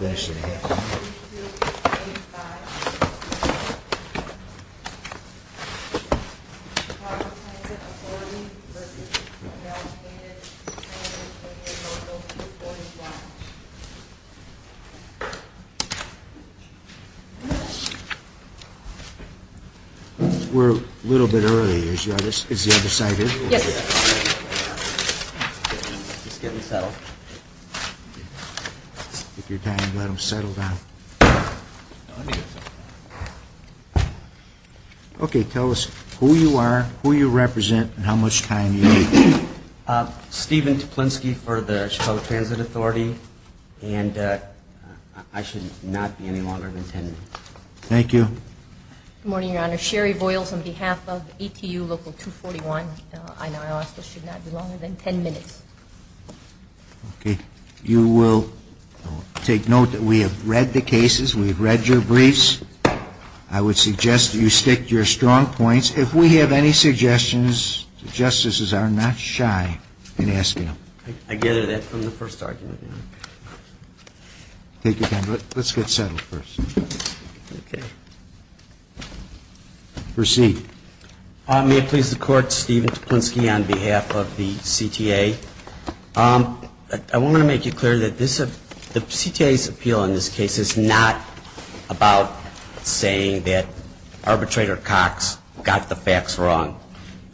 Local 241 We're a little bit early. Is the other side here? Yes. Okay, tell us who you are, who you represent, and how much time you need. Steven Tuplinski for the Chicago Transit Authority, and I should not be any longer than 10 minutes. Okay. You will take note that we have read the cases, we've read your briefs. I would suggest that you stick to your strong points. If we have any suggestions, the justices are not shy in asking them. I gather that from the first argument. Take your time. Let's get settled first. Okay. Proceed. May it please the Court, Steven Tuplinski on behalf of the CTA. I want to make it clear that the CTA's appeal in this case is not about saying that arbitrator Cox got the facts wrong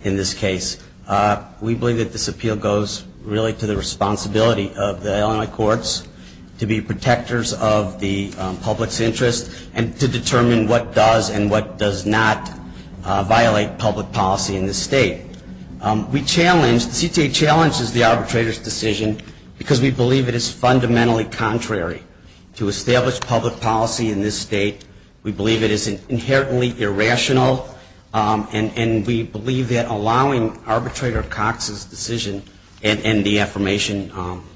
in this case. We believe that this appeal goes really to the responsibility of the Illinois courts to be protectors of the public's interests and to determine what does and what does not violate public policy in this state. We challenge, the CTA challenges the arbitrator's decision because we believe it is fundamentally contrary to established public policy in this state. We believe it is inherently irrational, and we believe that allowing arbitrator Cox's decision and the affirmation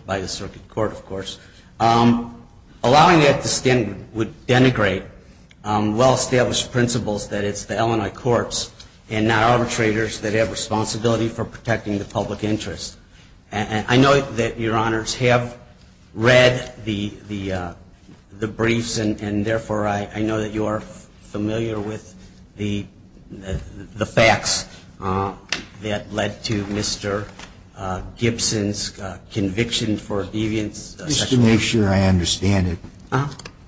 by the circuit court, of course, allowing that to stand would denigrate well-established principles, that it's the Illinois courts and not arbitrators that have responsibility for protecting the public interest. I know that your honors have read the briefs, and therefore, I know that you are familiar with the facts that led to Mr. Gibson's conviction for deviance. Just to make sure I understand it,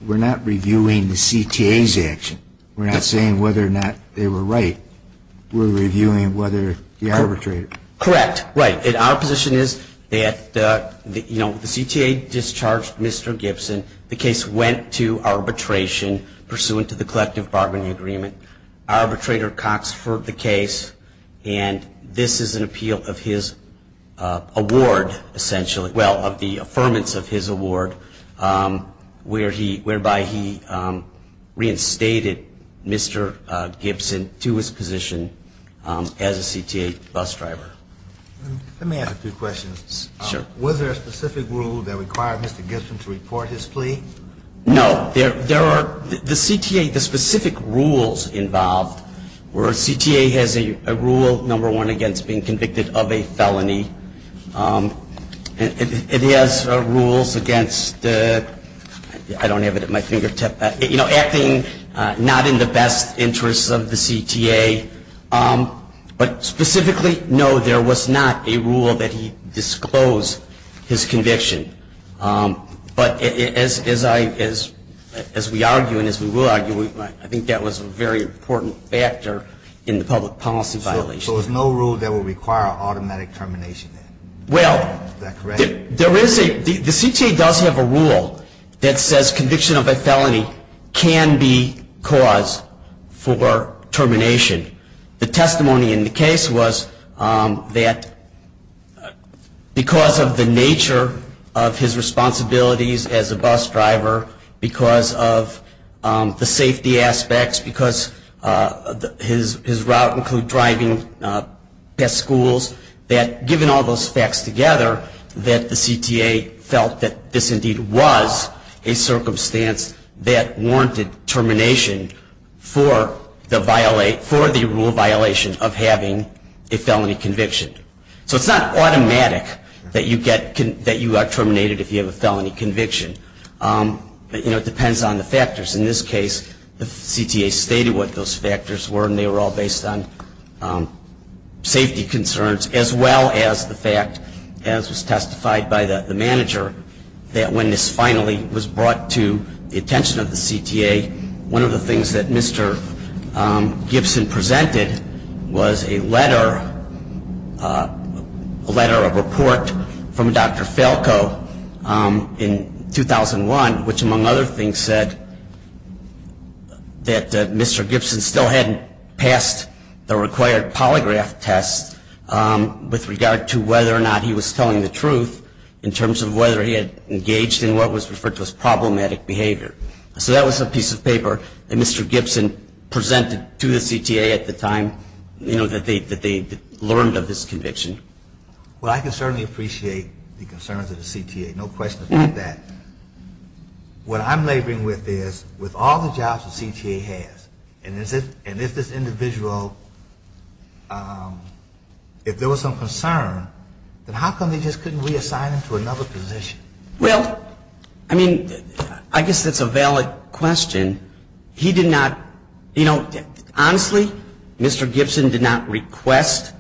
we're not reviewing the CTA's action. We're not saying whether or not they were right. We're reviewing whether the arbitrator. Correct. Right. Our position is that, you know, the CTA discharged Mr. Gibson. The case went to arbitration pursuant to the collective bargaining agreement. Arbitrator Cox for the case, and this is an appeal of his award, essentially, well, of the affirmance of his award, whereby he reinstated Mr. Gibson to his position as a CTA bus driver. Let me ask a few questions. Was there a specific rule that required Mr. Gibson to report his conviction? No. There are, the CTA, the specific rules involved were CTA has a rule, number one, against being convicted of a felony. It has rules against, I don't have it at my fingertip, you know, acting not in the best interests of the CTA. But specifically, no, there was not a rule that he disclosed his conviction. But as I, as we argue and as we will argue, I think that was a very important factor in the public policy violation. So there was no rule that would require automatic termination then? Well, there is a, the CTA does have a rule that says conviction of a felony can be cause for termination. The testimony in the case was that because of the nature of his responsibilities as a bus driver, because of the safety aspects, because his route included driving past schools, that given all those facts together, that the CTA felt that this indeed was a circumstance that warranted termination for the violation, for the rule violation of having a felony conviction. So it's not automatic that you get, that you are terminated if you have a felony conviction. You know, it depends on the factors. In this case, the CTA stated what those factors were and they were all based on safety concerns as well as the fact, as was testified by the manager, that when this finally was brought to the attention of the CTA, one of the things that Mr. Gibson presented was a letter, a letter of report from Dr. Falco in 2001, which among other things said that Mr. Gibson still hadn't passed the required polygraph test with regard to whether or not he was telling the truth in terms of whether he had engaged in what was referred to as problematic behavior. So that was a piece of paper that Mr. Gibson presented to the CTA at the time, you know, that they learned of this conviction. Well, I can certainly appreciate the concerns of the CTA, no question about that. What I'm laboring with is, with all the jobs the CTA has, and if this individual if there was some concern, then how come they just couldn't reassign him to another position? Well, I mean, I guess that's a valid question. He did not, you know, honestly, Mr. Gibson did not request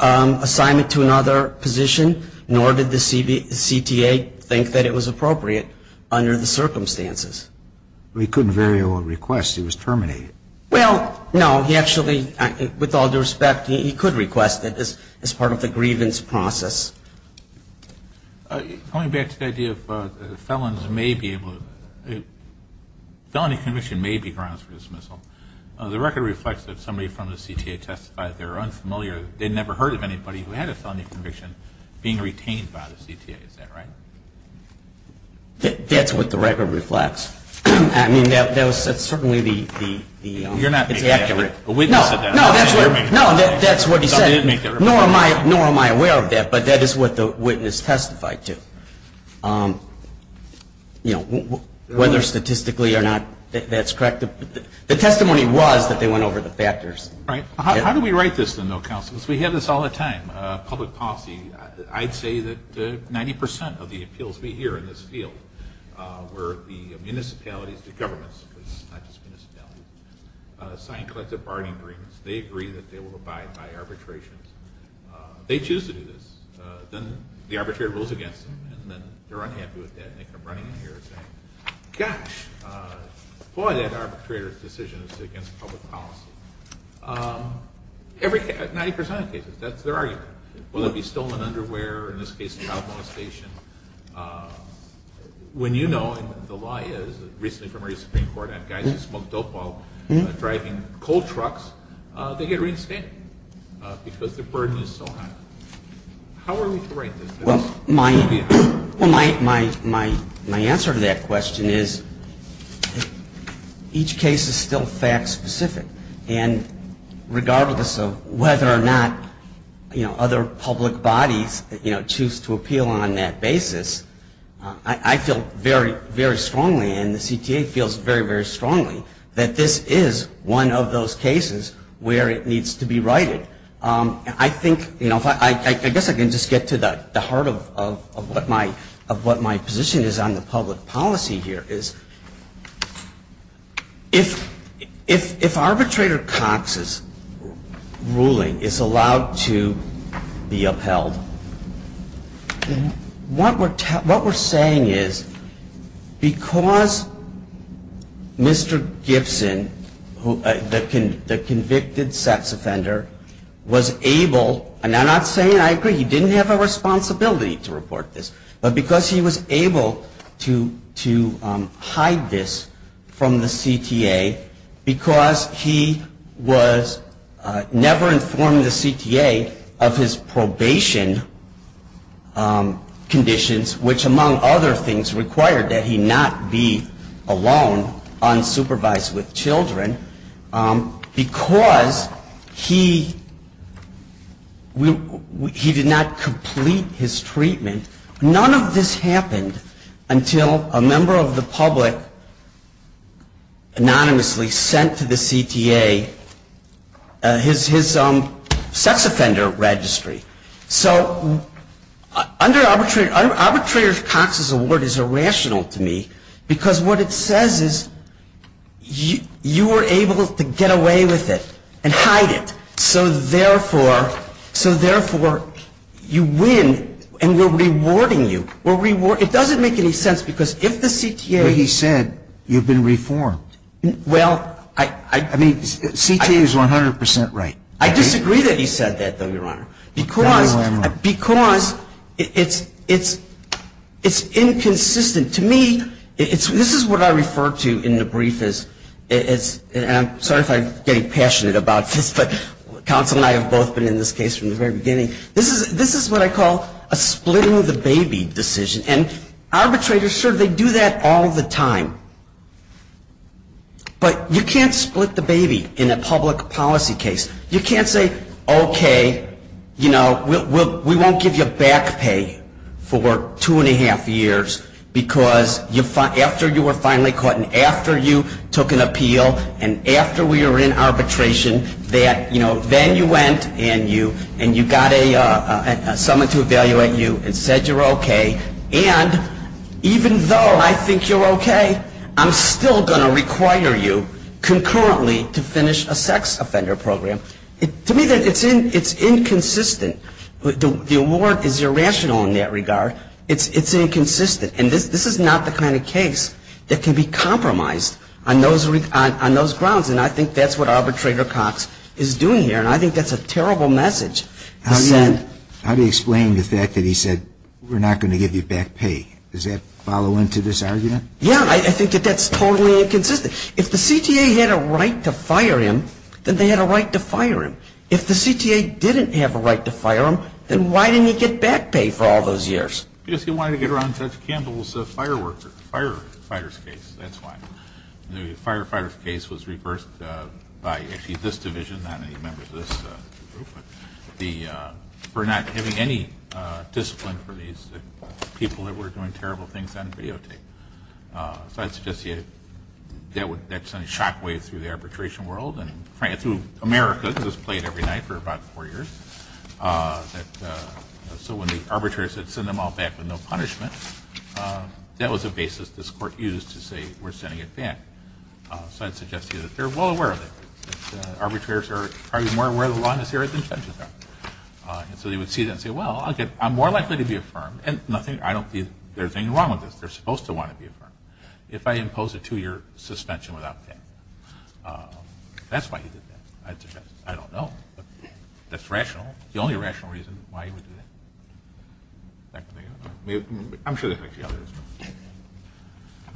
assignment to another position, nor did the CTA think that it was appropriate under the circumstances. Well, he couldn't very well request. He was terminated. Well, no, he actually, with all due respect, he could request it as part of the grievance process. Going back to the idea of felons may be able to, felony conviction may be grounds for dismissal, the record reflects that somebody from the CTA testified they were unfamiliar, they'd never heard of anybody who had a felony conviction being retained by the CTA, is that right? That's what the record reflects. I mean, that was certainly the, it's accurate. You're not making that up. A witness said that. No, that's what he said. Nor am I aware of that, but that is what the witness testified to. You know, whether statistically or not, that's correct. The testimony was that they went over the factors. Right. How do we write this then, though, counselors? We have this all the time. Public policy, I'd say that 90% of the appeals we hear in this field were the municipalities, the governments, not just municipalities, sign collective bargaining agreements. They agree that they will abide by arbitrations. They choose to do this. Then the arbitrator goes against them, and then they're unhappy with that, and they come running in here saying, gosh, boy, that arbitrator's against public policy. Every, 90% of the cases, that's their argument. Whether it be stolen underwear, in this case, child molestation. When you know, and the lie is, recently from our Supreme Court, I have guys who smoke dope while driving coal trucks, they get reinstated because the burden is so high. How are we to write this? Well, my answer to that question is, each case is still fact specific. And regardless of whether or not, you know, other public bodies, you know, choose to appeal on that basis, I feel very, very strongly, and the CTA feels very, very strongly, that this is one of those cases where it needs to be righted. I think, you know, I guess I can just get to the heart of what my position is on the public policy here, is if arbitrator Cox's ruling is allowed to be upheld, what we're saying is, because Mr. Gibson, the convicted sex offender, was able, and I'm not saying I agree, he didn't have a responsibility to report this, but because he was able to hide this from the CTA, because he was never informed the CTA of his probation conditions, which among other things required that he not be alone, unsupervised with children, because he did not complete his treatment, none of this happened until a member of the public anonymously sent to the CTA his sex offender registry. So under arbitrator Cox's award is irrational to me, because what it says is, you were able to get away with it, and hide it, so therefore, so therefore, you win, and we're rewarding you, we're rewarding, it doesn't make any sense, because if the CTA But he said, you've been reformed. Well, I I mean, CTA is 100 percent right. I disagree that he said that, though, Your Honor, because I know I'm wrong. Because it's, it's, it's inconsistent. To me, it's, this is what I refer to in the brief as, as, and I'm sorry if I'm getting passionate about this, but counsel and I have both been in this case from the very beginning. This is, this is what I call a splitting the baby decision, and arbitrators, sure, they do that all the time, but you can't split the baby in a public policy case. You can't say, okay, you know, we won't give you back pay for two and a half years, because you, after you were finally caught, and after you took an appeal, and after we were in arbitration, that, you know, then you went, and you, and you got a, someone to evaluate you, and said you're okay, and even though I think you're okay, I'm still going to require you, concurrently, to finish a sex offender program. To me, it's inconsistent. The award is irrational in that regard. It's inconsistent, and this is not the kind of case that can be compromised on those grounds, and I think that's what Arbitrator Cox is doing here, and I think that's a terrible message. How do you, how do you explain the fact that he said, we're not going to give you back pay? Does that follow into this argument? Yeah, I think that that's totally inconsistent. If the CTA had a right to fire him, then they had a right to fire him. If the CTA didn't have a right to fire him, then why didn't he get back pay for all those years? Because he wanted to get around Judge Campbell's fire worker, fire fighter's case, that's why. The firefighter's case was reversed by, actually, this division, not any members of this group, for not having any discipline for these people that were doing terrible things on videotape. So I'd suggest to you that would, that would send a shockwave through the arbitration world and through America, because it was played every night for about four years, that, so when the arbitrators would send them all back with no punishment, that was a basis this Court used to say, we're sending it back. So I'd suggest to you that they're well aware of it, that arbitrators are probably more aware of the law in this area than judges are, and so they would see that and say, well, I'm more likely to be affirmed, and nothing, I don't think there's anything wrong with this, they're supposed to want to be affirmed, if I impose a two-year suspension without pay. That's why he did that, I'd suggest. I don't know, but that's rational, the only rational reason why he would do that.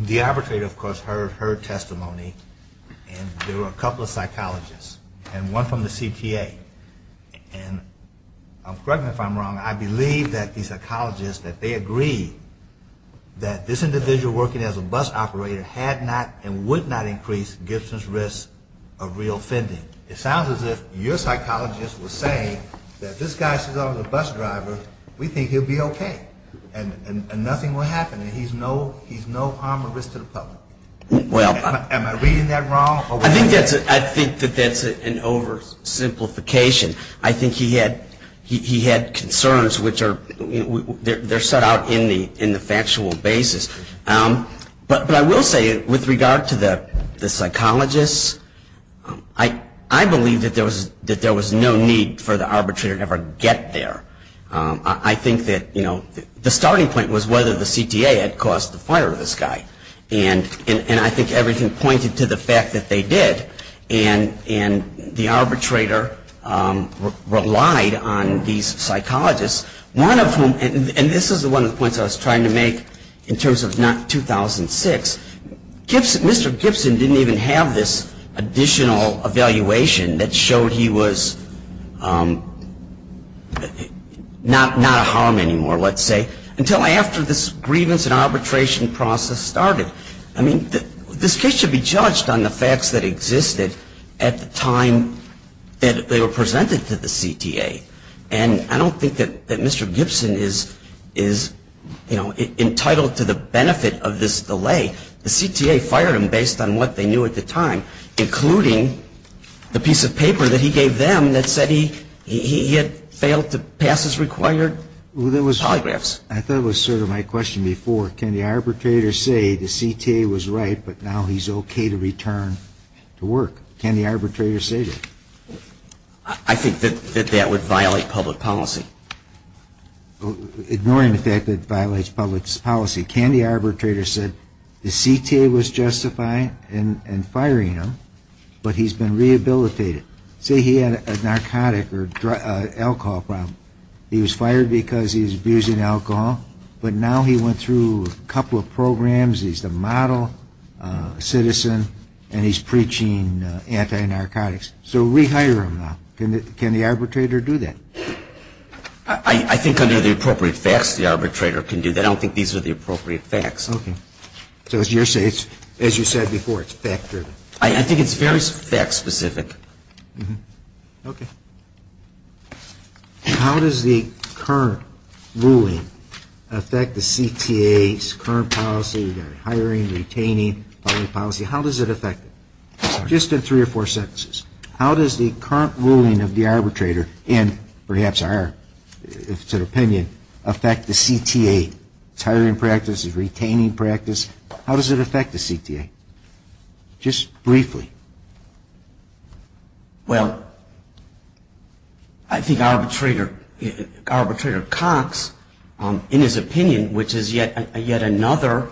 The arbitrator, of course, heard her testimony, and there were a couple of psychologists, and one from the CPA, and correct me if I'm wrong, I believe that the psychologist, that they agreed that this individual working as a bus operator had not and would not increase Gibson's risk of reoffending. It sounds as if your psychologist was saying that this guy, since he's a bus driver, we think he'll be OK, and nothing will happen, and he's no harm or risk to the public. Am I reading that wrong? I think that that's an oversimplification. I think he had concerns which are, they're brought out in the factual basis. But I will say, with regard to the psychologists, I believe that there was no need for the arbitrator to ever get there. I think that the starting point was whether the CTA had caused the fire to this guy, and I think everything pointed to the fact that they did, and the arbitrator relied on these psychologists, one of whom, and this is one of the points I was trying to make in terms of not 2006, Mr. Gibson didn't even have this additional evaluation that showed he was not a harm anymore, let's say, until after this grievance and arbitration process started. I mean, this case should be judged on the facts that existed at the time that they were involved. I don't think that the CTA is entitled to the benefit of this delay. The CTA fired him based on what they knew at the time, including the piece of paper that he gave them that said he had failed to pass his required polygraphs. I thought it was sort of my question before. Can the arbitrator say the CTA was right, but now he's OK to return to work? Can the arbitrator say that? I think that that would violate public policy. Ignoring the fact that it violates public policy, can the arbitrator say the CTA was justifying and firing him, but he's been rehabilitated? Say he had a narcotic or alcohol problem. He was fired because he was abusing alcohol, but now he went through a couple of programs, he's a model citizen, and he's preaching anti-narcotics. So rehire him now. Can the arbitrator do that? I think under the appropriate facts, the arbitrator can do that. I don't think these are the appropriate facts. OK. So as you said before, it's fact driven. I think it's very fact specific. OK. How does the current ruling affect the CTA's current policy, their hiring, retaining policy? How does it affect it? Just in three or four sentences. How does the current ruling of the arbitrator, and perhaps our opinion, affect the CTA's hiring practice, his retaining practice? How does it affect the CTA? Just briefly. Well, I think Arbitrator Cox, in his opinion, which is yet another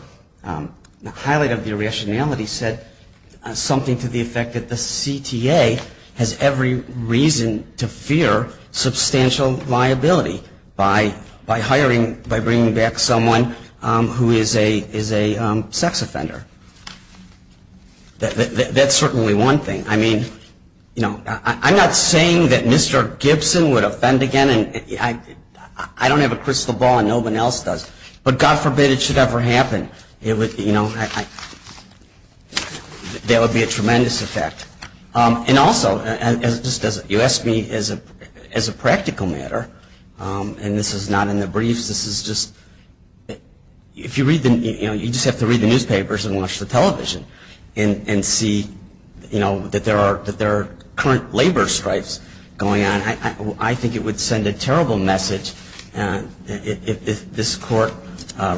highlight of the original rationality, said something to the effect that the CTA has every reason to fear substantial liability by hiring, by bringing back someone who is a sex offender. That's certainly one thing. I mean, you know, I'm not saying that Mr. Gibson would offend again and I don't have a crystal ball and no one else does, but God forbid it should ever happen, you know, that would be a tremendous effect. And also, you asked me as a practical matter, and this is not in the briefs, this is just, if you read the, you know, you just have to read the newspapers and watch the television and see, you know, that there are current labor strikes going on, I think it would send a terrible message if this Court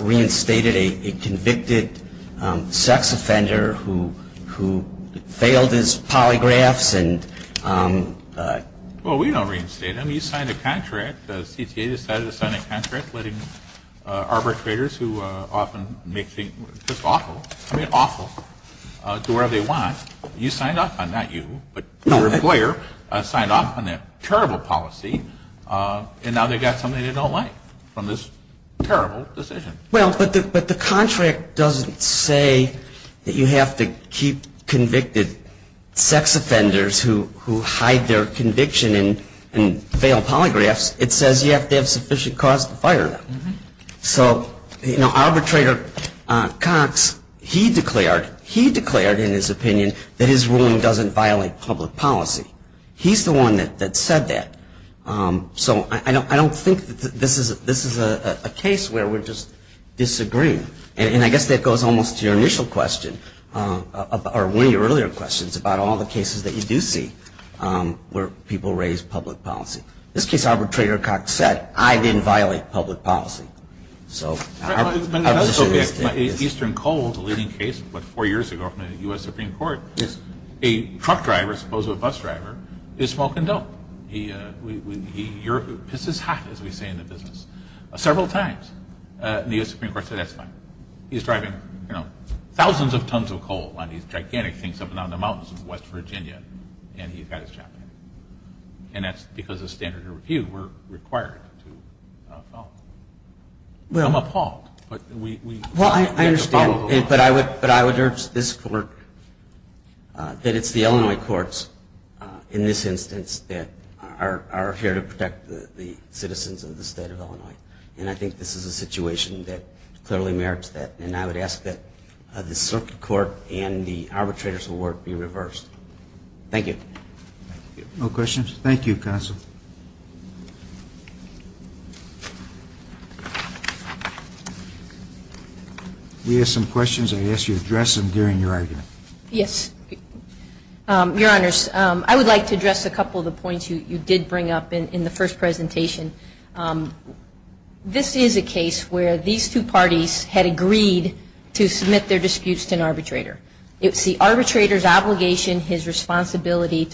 reinstated a convicted sex offender who failed his polygraphs and… Well, we don't reinstate him. He signed a contract, the CTA decided to sign a contract letting arbitrators who often make things just awful, I mean awful, do whatever they want, and now they've got somebody they don't like from this terrible decision. Well, but the contract doesn't say that you have to keep convicted sex offenders who hide their conviction and fail polygraphs. It says you have to have sufficient cause to fire them. So, you know, Arbitrator Cox, he declared, he declared in his opinion that his ruling doesn't violate public policy. He's the one that said that. So, I don't think that this is a case where we're just disagreeing. And I guess that goes almost to your initial question, or one of your earlier questions, about all the cases that you do see where people raise public policy. This case, Arbitrator Cox said, I didn't violate public policy. So, our position is that it is… Well, Eastern Coal is a leading case, what, four years ago from the U.S. Supreme Court. A truck driver, suppose a bus driver, is smoking dope. He pisses hot, as we say in the business. Several times, the U.S. Supreme Court said that's fine. He's driving, you know, thousands of tons of coal on these gigantic things up and down the mountains in West Virginia, and he's got his job to do. And that's because of standard of review, we're required to Well, I understand. But I would urge this court that it's the Illinois courts, in this instance, that are here to protect the citizens of the state of Illinois. And I think this is a situation that clearly merits that. And I would ask that the circuit court and the arbitrator's award be reversed. Thank you. No questions? Thank you, Counsel. We have some questions. I'd ask you to address them during your argument. Yes. Your Honors, I would like to address a couple of the points you did bring up in the first presentation. This is a case where these two parties had agreed to submit their remedy, to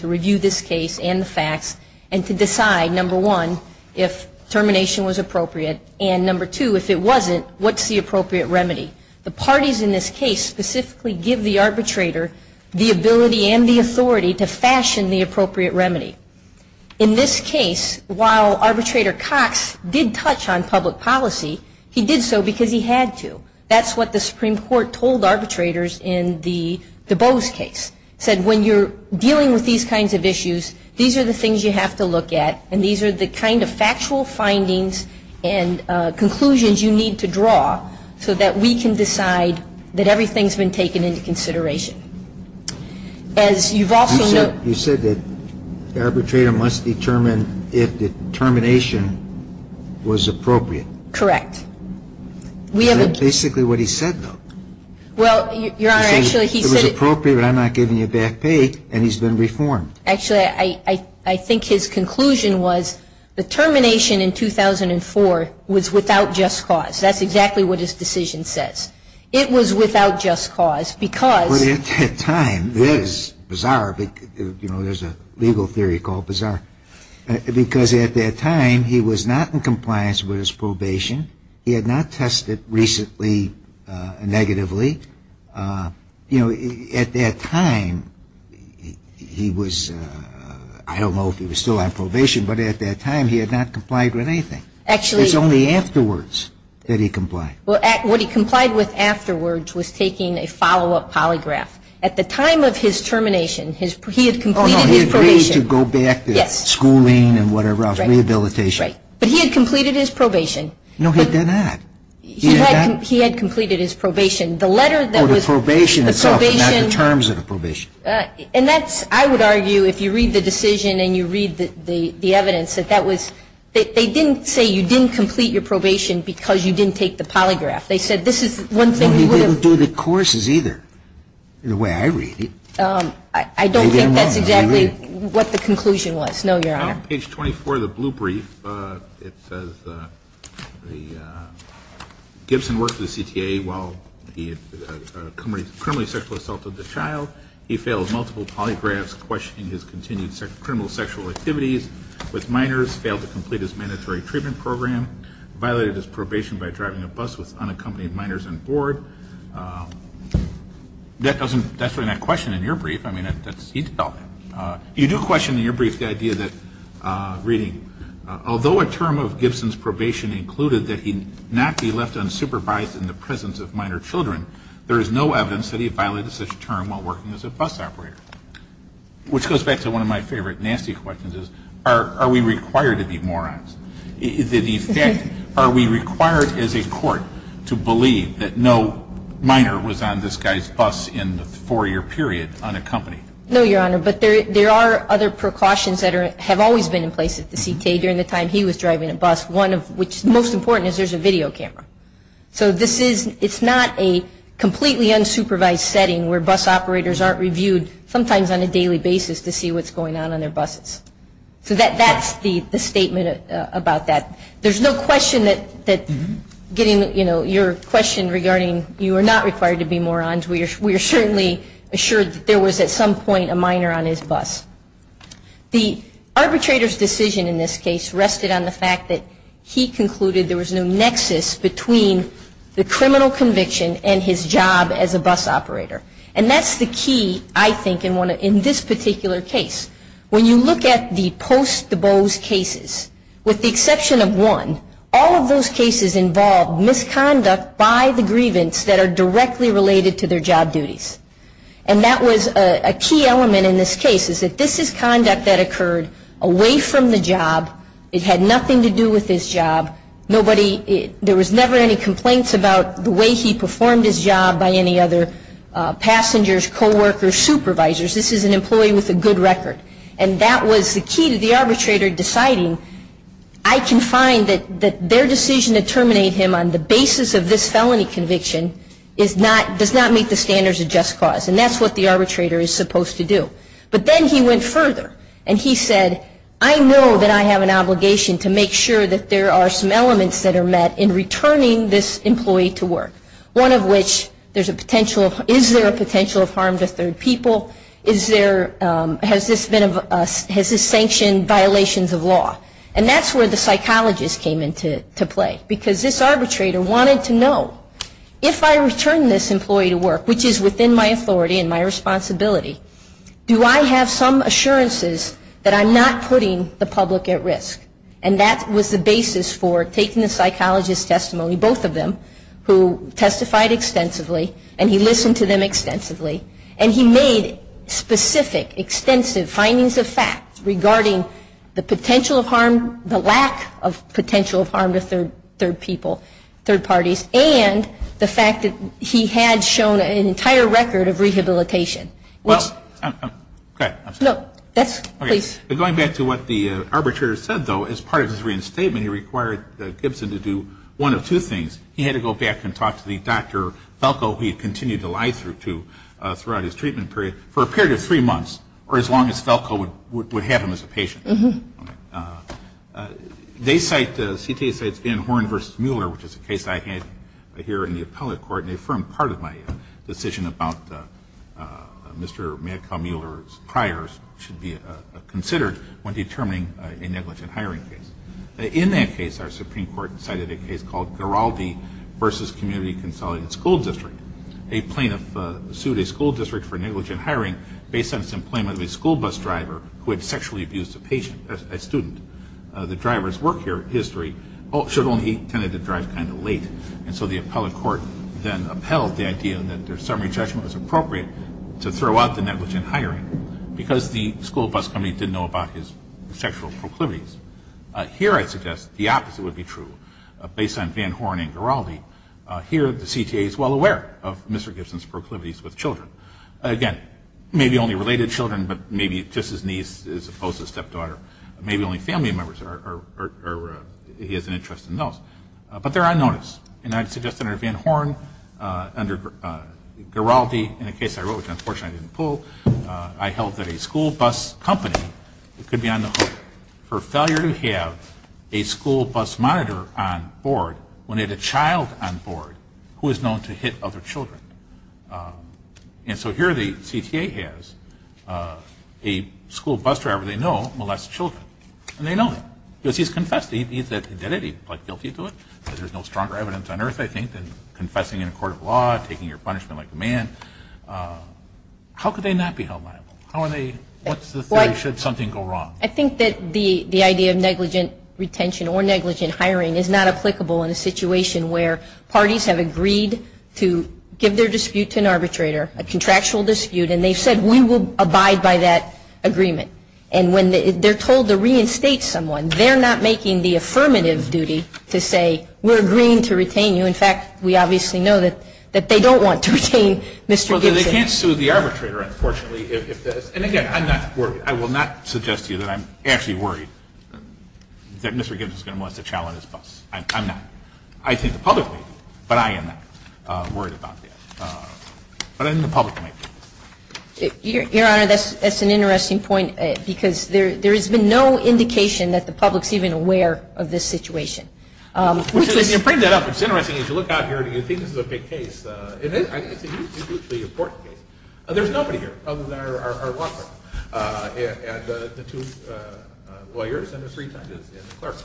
review this case and the facts, and to decide, number one, if termination was appropriate, and number two, if it wasn't, what's the appropriate remedy? The parties in this case specifically give the arbitrator the ability and the authority to fashion the appropriate remedy. In this case, while Arbitrator Cox did touch on public policy, he did so because he had to. That's what the Supreme Court told arbitrators in the Beaux case. It said, when you're dealing with these kinds of issues, these are the things you have to look at, and these are the kind of factual findings and conclusions you need to draw so that we can decide that everything's been taken into consideration. As you've also noted You said that the arbitrator must determine if the termination was appropriate. Correct. We have a Is that basically what he said, though? Well, Your Honor, actually, he said It was appropriate, but I'm not giving you back pay, and he's been reformed. Actually, I think his conclusion was the termination in 2004 was without just cause. That's exactly what his decision says. It was without just cause because But at that time, that is bizarre. You know, there's a legal theory called bizarre. Because at that time, he was not in compliance with his probation. He had not tested recently, negatively. You know, at that time, he was I don't know if he was still on probation, but at that time, he had not complied with anything. Actually It's only afterwards that he complied. Well, what he complied with afterwards was taking a follow-up polygraph. At the time of his termination, he had completed his probation. Oh, no, he agreed to go back to schooling and whatever else, rehabilitation. But he had completed his probation. No, he did not. He had completed his probation. The letter that was The probation itself, not the terms of the probation. And that's I would argue if you read the decision and you read the evidence that that was They didn't say you didn't complete your probation because you didn't take the polygraph. They said this is one thing he would have Well, he didn't do the courses either, in the way I read it. I don't think that's exactly what the conclusion was. No, Your Honor. On page 24 of the blue brief, it says the Gibson worked for the CTA while he committed criminally sexual assault of the child. He failed multiple polygraphs, questioning his continued criminal sexual activities with minors, failed to complete his mandatory treatment program, violated his probation by driving a bus with unaccompanied minors on board. That doesn't that's You do question in your brief the idea that reading, although a term of Gibson's probation included that he not be left unsupervised in the presence of minor children, there is no evidence that he violated such a term while working as a bus operator. Which goes back to one of my favorite nasty questions is, are we required to be morons? In effect, are we required as a court to believe that no minor was on this guy's bus in the four-year period unaccompanied? No, Your Honor, but there are other precautions that have always been in place at the CTA during the time he was driving a bus. One of which, most important, is there's a video camera. So this is, it's not a completely unsupervised setting where bus operators aren't reviewed sometimes on a daily basis to see what's going on on their buses. So that's the statement about that. There's no question that getting, you know, your question regarding you are not required to be morons. We are certainly assured that there was at some point a minor on his bus. The arbitrator's decision in this case rested on the fact that he concluded there was no nexus between the criminal conviction and his job as a bus operator. And that's the key, I think, in this particular case. When you look at the post-Dubose cases, with the exception of one, all of those cases involved misconduct by the grievance that are directly related to their job duties. And that was a key element in this case, is that this is conduct that occurred away from the job. It had nothing to do with his job. Nobody, there was never any complaints about the way he performed his job by any other person. And that was the key to the arbitrator deciding, I can find that their decision to terminate him on the basis of this felony conviction does not meet the standards of just cause. And that's what the arbitrator is supposed to do. But then he went further and he said, I know that I have an obligation to make sure that there are some elements that are met in returning this employee to work. One of which, is there a potential of harm to third people? Has this sanctioned violations of law? And that's where the psychologist came into play. Because this arbitrator wanted to know, if I return this employee to work, which is within my authority and my responsibility, do I have some assurances that I'm not putting the public at risk? And that was the basis for taking the psychologist's testimony, both of them, who testified extensively, and he listened to them extensively. And he made specific, extensive findings of fact regarding the potential of harm, the lack of potential of harm to third people, third parties, and the fact that he had shown an entire record of rehabilitation. But going back to what the arbitrator said, though, as part of his reinstatement, he required Gibson to do one of two things. He had to go back and talk to the Dr. Falco, who he continued to lie through to throughout his treatment period, for a period of three months, or as long as Falco would have him as a patient. They cite, the CTA cites Van Horn versus Mueller, which is a case I had here in the appellate court, and a firm part of my decision about Mr. Madcow-Mueller's priors should be considered when determining a negligent hiring case. In that case, our Supreme Court cited a case called Garaldi versus Community Consolidated School District. A plaintiff sued a school district for negligent hiring based on its employment of a school bus driver who had sexually abused a student. The driver's work history showed only he tended to drive kind of late, and so the appellate court then upheld the idea that their summary judgment was appropriate to throw out the negligent hiring because the school bus company didn't know about his sexual proclivities. Here I suggest the opposite would be true, based on Van Horn and Garaldi. Here the CTA is well aware of Mr. Gibson's proclivities with children. Again, maybe only related children, but maybe just his niece as opposed to his stepdaughter. Maybe only family members, or he has an interest in those. But they're on notice, and I'd suggest under Van Horn, under Garaldi, in a case I wrote which unfortunately I didn't pull, I held that a school bus company could be on the hook for failure to have a school bus monitor on board when they had a child on board who was known to hit other children. And so here the CTA has a school bus driver they know molests children, and they know that because he's confessed. He did it. He pled guilty to it because there's no stronger evidence on earth, I think, than confessing in a court of law, taking your punishment like a man. How could they not be held liable? What's the theory? Should something go wrong? I think that the idea of negligent retention or negligent hiring is not applicable in a situation where parties have agreed to give their dispute to an arbitrator, a contractual dispute, and they've said we will abide by that agreement. And when they're told to reinstate someone, they're not making the affirmative duty to say we're agreeing to retain you. In fact, we obviously know that they don't want to retain Mr. Gibson. Well, they can't sue the arbitrator, unfortunately. And again, I'm not worried. I will not suggest to you that I'm actually worried that Mr. Gibson is going to molest a child on his bus. I'm not. I think the public may be, but I am not worried about that. But I think the public may be. Your Honor, that's an interesting point because there has been no indication that the public is even aware of this situation. If you bring that up, it's interesting. If you look out here and you think this is a big case, it is. It's a hugely important case. There's nobody here other than our law firm and the two lawyers and the three judges and the clerk.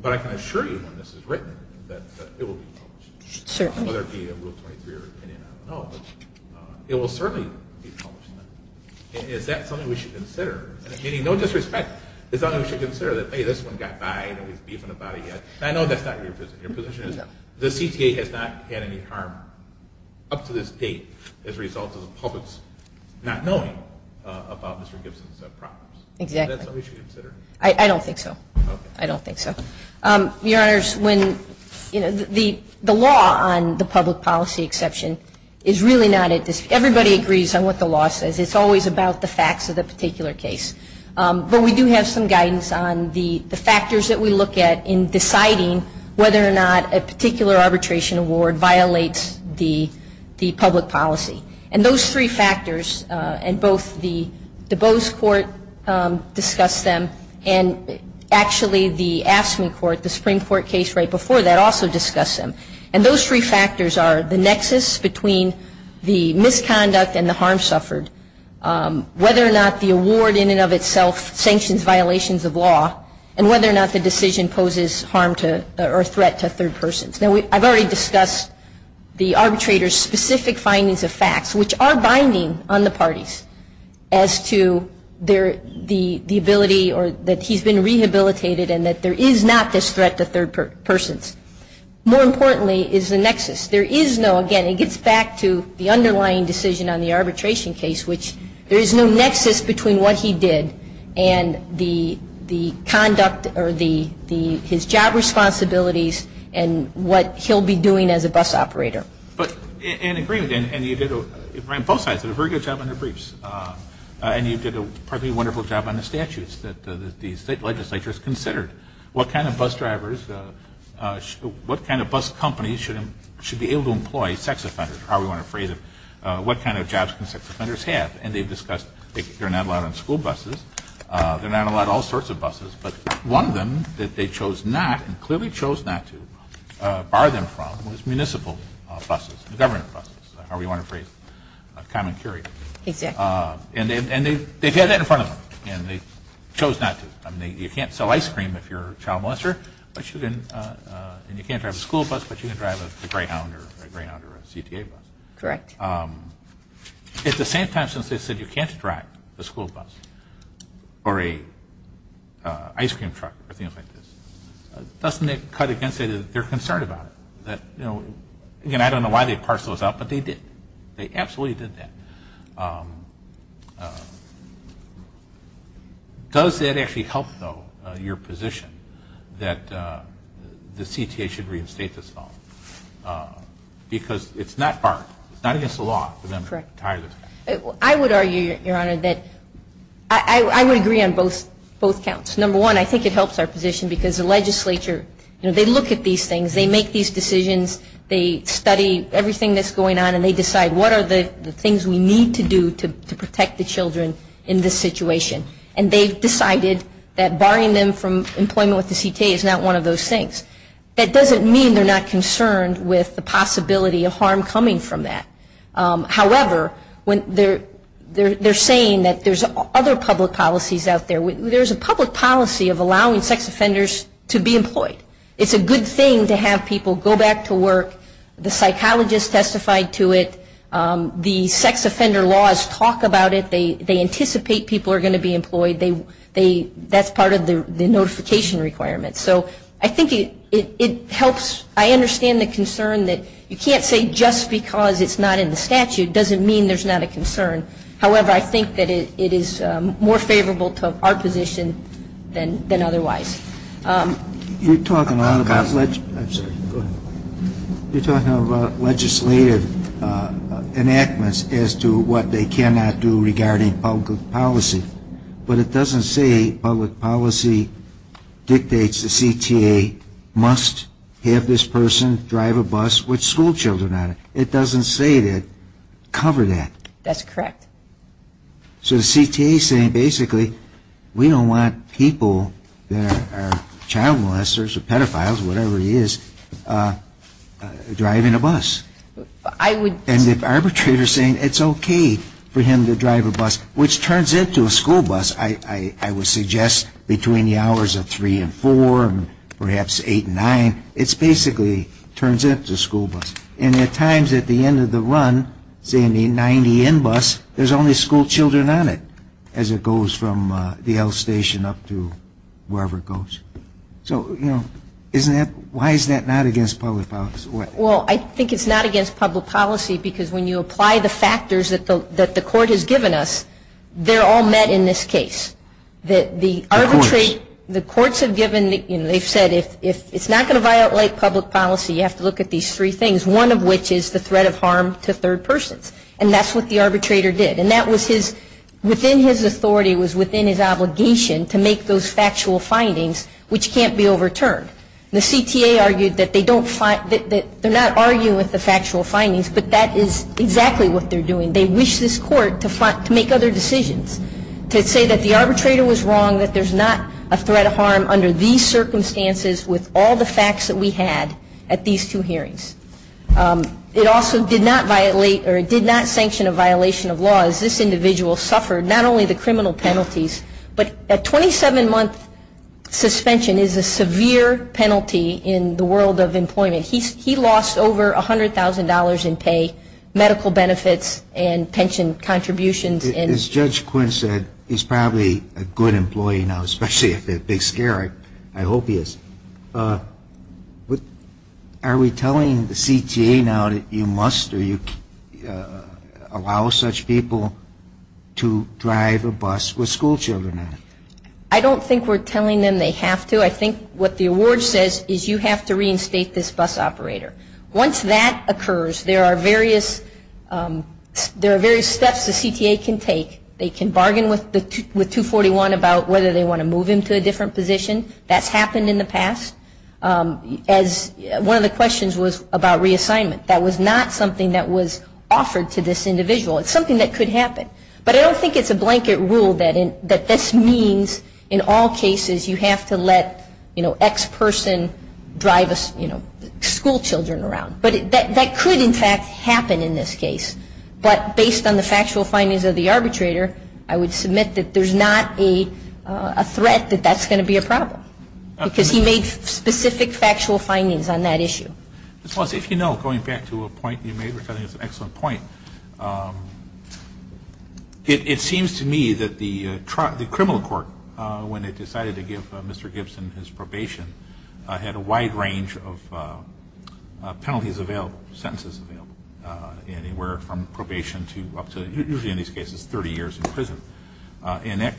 But I can assure you when this is written that it will be published. Certainly. Whether it be in Rule 23 or opinion, I don't know. But it will certainly be published. And is that something we should consider? Meaning, no disrespect, is that something we should consider? That, hey, this one got by and he's beefing about it. I know that's not your position. Your position is the CTA has not had any harm up to this date as a result of the public's not knowing about Mr. Gibson's problems. Exactly. Is that something we should consider? I don't think so. Okay. I don't think so. Your Honors, when, you know, the law on the public policy exception is really not at this point. Everybody agrees on what the law says. It's always about the facts of the particular case. But we do have some guidance on the factors that we look at in deciding whether or not a particular arbitration award violates the public policy. And those three factors and both the DuBose court discussed them and actually the AFSCME court, the Supreme Court case right before that also discussed them. And those three factors are the nexus between the misconduct and the harm suffered, whether or not the award in and of itself sanctions violations of law, and whether or not the decision poses harm or threat to third persons. Now, I've already discussed the arbitrator's specific findings of facts, which are binding on the parties as to the ability or that he's been rehabilitated and that there is not this threat to third persons. More importantly is the nexus. There is no, again, it gets back to the underlying decision on the arbitration case, which there is no nexus between what he did and the conduct or his job responsibilities and what he'll be doing as a bus operator. But in agreement, and both sides did a very good job on their briefs, and you did a perfectly wonderful job on the statutes that the state legislature has considered what kind of bus drivers, what kind of bus companies should be able to employ sex offenders, or however you want to phrase it, what kind of jobs can sex offenders have. And they've discussed they're not allowed on school buses, they're not allowed on all sorts of buses, but one of them that they chose not and clearly chose not to bar them from was municipal buses, government buses, however you want to phrase it, common carry. And they've had that in front of them, and they chose not to. I mean, you can't sell ice cream if you're a child molester, and you can't drive a school bus, but you can drive a Greyhound or a CTA bus. Correct. At the same time, since they said you can't drive a school bus or an ice cream truck or things like this, doesn't it cut against it that they're concerned about it? Again, I don't know why they parsed those out, but they did. They absolutely did that. Does that actually help, though, your position that the CTA should reinstate this law? Because it's not barred. It's not against the law for them to retire this. I would argue, Your Honor, that I would agree on both counts. Number one, I think it helps our position because the legislature, you know, they look at these things, they make these decisions, they study everything that's going on, and they decide what are the things we need to do to protect the children in this situation. And they've decided that barring them from employment with the CTA is not one of those things. That doesn't mean they're not concerned with the possibility of harm coming from that. However, they're saying that there's other public policies out there. There's a public policy of allowing sex offenders to be employed. It's a good thing to have people go back to work. The psychologist testified to it. The sex offender laws talk about it. They anticipate people are going to be employed. That's part of the notification requirements. So I think it helps. I understand the concern that you can't say just because it's not in the statute doesn't mean there's not a concern. However, I think that it is more favorable to our position than otherwise. You're talking a lot about legislative enactments as to what they cannot do regarding public policy. But it doesn't say public policy dictates the CTA must have this person drive a bus with schoolchildren on it. It doesn't say that. Cover that. That's correct. So the CTA is saying basically we don't want people that are child molesters or pedophiles, whatever it is, driving a bus. And the arbitrator is saying it's okay for him to drive a bus, which turns into a school bus, I would suggest, between the hours of 3 and 4, perhaps 8 and 9. It basically turns into a school bus. And at times at the end of the run, say in the 90N bus, there's only schoolchildren on it, as it goes from the L station up to wherever it goes. So, you know, isn't that why is that not against public policy? Well, I think it's not against public policy because when you apply the factors that the court has given us, they're all met in this case. The courts. The courts have given, you know, they've said if it's not going to violate public policy, you have to look at these three things, one of which is the threat of harm to third persons. And that's what the arbitrator did. And that was his, within his authority was within his obligation to make those factual findings, which can't be overturned. The CTA argued that they don't, that they're not arguing with the factual findings, but that is exactly what they're doing. They wish this court to make other decisions, to say that the arbitrator was wrong, that there's not a threat of harm under these circumstances with all the facts that we had at these two hearings. It also did not violate or it did not sanction a violation of law, as this individual suffered not only the criminal penalties, but a 27-month suspension is a severe penalty in the world of employment. He lost over $100,000 in pay, medical benefits, and pension contributions. As Judge Quinn said, he's probably a good employee now, especially if they're big scare. I hope he is. Are we telling the CTA now that you must or you allow such people to drive a bus with schoolchildren on it? I don't think we're telling them they have to. I think what the award says is you have to reinstate this bus operator. Once that occurs, there are various steps the CTA can take. They can bargain with 241 about whether they want to move him to a different position. That's happened in the past. One of the questions was about reassignment. That was not something that was offered to this individual. It's something that could happen, but I don't think it's a blanket rule that this means in all cases you have to let X person drive schoolchildren around. But that could, in fact, happen in this case. But based on the factual findings of the arbitrator, I would submit that there's not a threat that that's going to be a problem, because he made specific factual findings on that issue. Ms. Walsh, if you know, going back to a point you made, which I think is an excellent point, it seems to me that the criminal court, when it decided to give Mr. Gibson his probation, had a wide range of penalties available, sentences available, anywhere from probation to up to, usually in these cases, 30 years in prison. And that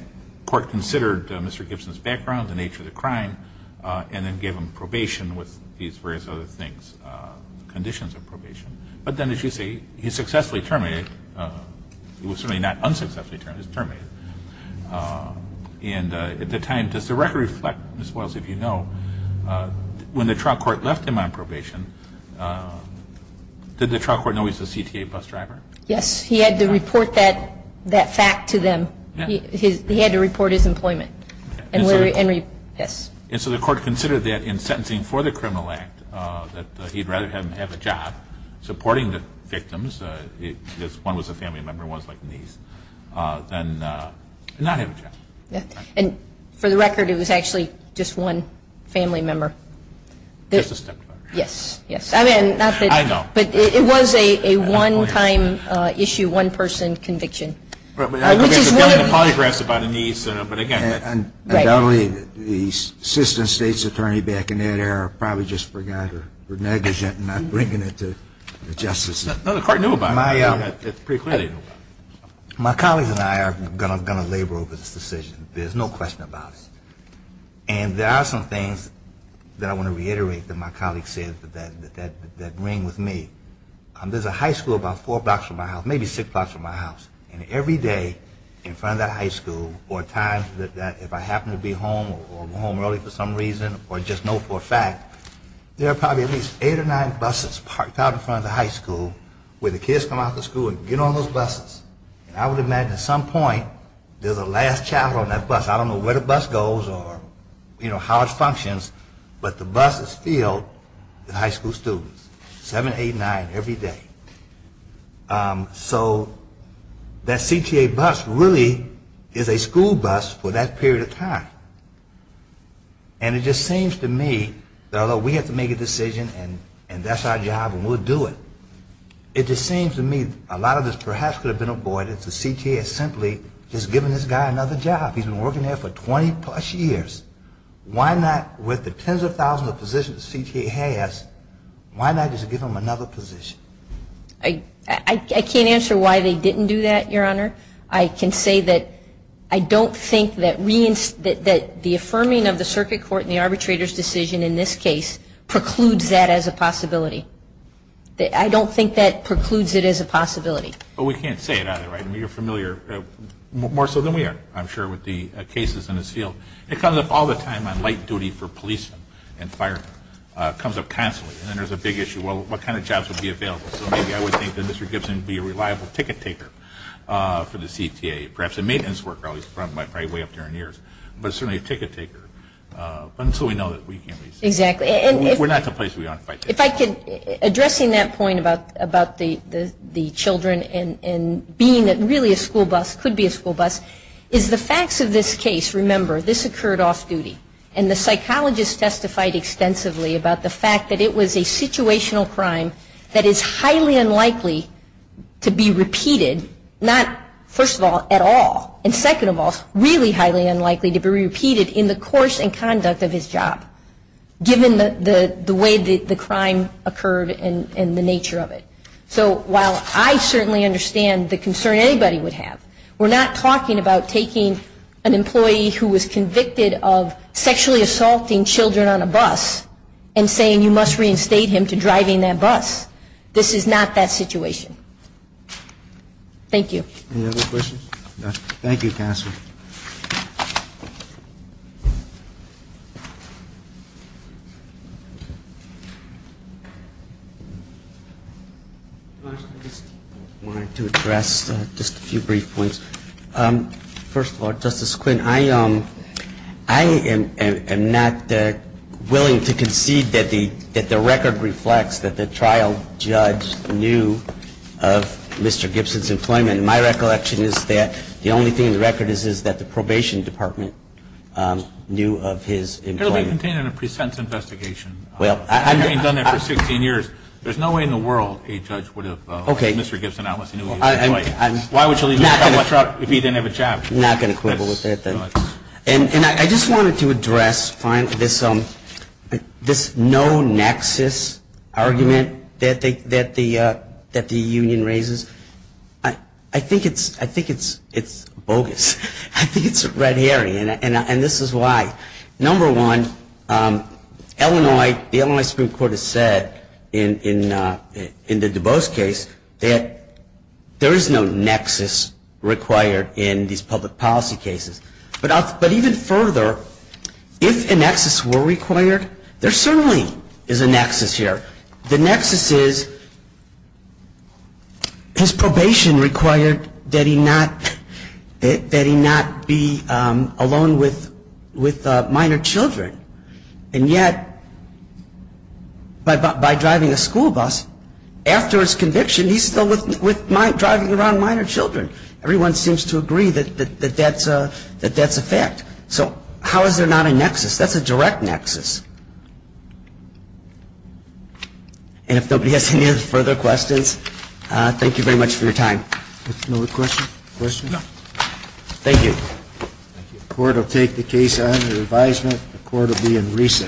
court considered Mr. Gibson's background, the nature of the crime, and then gave him probation with these various other things, conditions of probation. But then, as you say, he successfully terminated, he was certainly not unsuccessfully terminated, he was terminated. And at the time, does the record reflect, Ms. Walsh, if you know, when the trial court left him on probation, did the trial court know he was a CTA bus driver? Yes, he had to report that fact to them. He had to report his employment. And so the court considered that in sentencing for the criminal act, that he'd rather have a job supporting the victims, if one was a family member and one was like a niece, than not have a job. And for the record, it was actually just one family member. Just a stepmother. Yes, yes. I mean, not that. I know. But it was a one-time issue, one-person conviction, which is what... I mean, there's a billion polygraphs about a niece, but again... I'm not bringing it to justice. No, the court knew about it. It's pretty clear they knew about it. My colleagues and I are going to labor over this decision. There's no question about it. And there are some things that I want to reiterate that my colleagues said that ring with me. There's a high school about four blocks from my house, maybe six blocks from my house, and every day in front of that high school or at times if I happen to be home or go home early for some reason or just know for a fact, there are probably at least eight or nine buses parked out in front of the high school where the kids come out of the school and get on those buses. And I would imagine at some point there's a last child on that bus. I don't know where the bus goes or, you know, how it functions, but the bus is filled with high school students, seven, eight, nine, every day. So that CTA bus really is a school bus for that period of time. And it just seems to me that although we have to make a decision and that's our job and we'll do it, it just seems to me a lot of this perhaps could have been avoided if the CTA had simply just given this guy another job. He's been working there for 20 plus years. Why not with the tens of thousands of positions the CTA has, why not just give him another position? I can't answer why they didn't do that, Your Honor. I can say that I don't think that the affirming of the circuit court and the arbitrator's decision in this case precludes that as a possibility. I don't think that precludes it as a possibility. Well, we can't say it either, right? I mean, you're familiar more so than we are, I'm sure, with the cases in this field. It comes up all the time on light duty for police and fire. It comes up constantly. And then there's a big issue, well, what kind of jobs would be available? So maybe I would think that Mr. Gibson would be a reliable ticket taker for the CTA, perhaps a maintenance worker, he's probably way up there in years, but certainly a ticket taker. But until we know that, we can't be certain. Exactly. We're not complacent, Your Honor. If I could, addressing that point about the children and being really a school bus, could be a school bus, is the facts of this case, remember, this occurred off-duty. And the psychologist testified extensively about the fact that it was a situational crime that is highly unlikely to be repeated, not, first of all, at all, and second of all, really highly unlikely to be repeated in the course and conduct of his job, given the way the crime occurred and the nature of it. So while I certainly understand the concern anybody would have, we're not talking about taking an employee who was convicted of sexually assaulting children on a bus and saying you must reinstate him to driving that bus. This is not that situation. Thank you. Any other questions? No. Thank you, counsel. I just wanted to address just a few brief points. First of all, Justice Quinn, I am not willing to concede that the record reflects that the trial judge knew of Mr. Gibson's employment. My recollection is that the only thing in the record is that the probation department knew of his employment. It will be contained in a pre-sentence investigation. Well, I haven't done that for 16 years. There's no way in the world a judge would have known Mr. Gibson was an employee. Why would you leave him out of a trial if he didn't have a job? I'm not going to quibble with that. And I just wanted to address finally this no nexus argument that the union raises. I think it's bogus. I think it's red hairy, and this is why. Number one, the Illinois Supreme Court has said in the DuBose case that there is no nexus required in these public policy cases. But even further, if a nexus were required, there certainly is a nexus here. The nexus is his probation required that he not be alone with minor children. And yet by driving a school bus, after his conviction, he's still driving around minor children. Everyone seems to agree that that's a fact. That's a direct nexus. And if nobody has any further questions, thank you very much for your time. No more questions? Questions? No. Thank you. The court will take the case under advisement. The court will be in recess.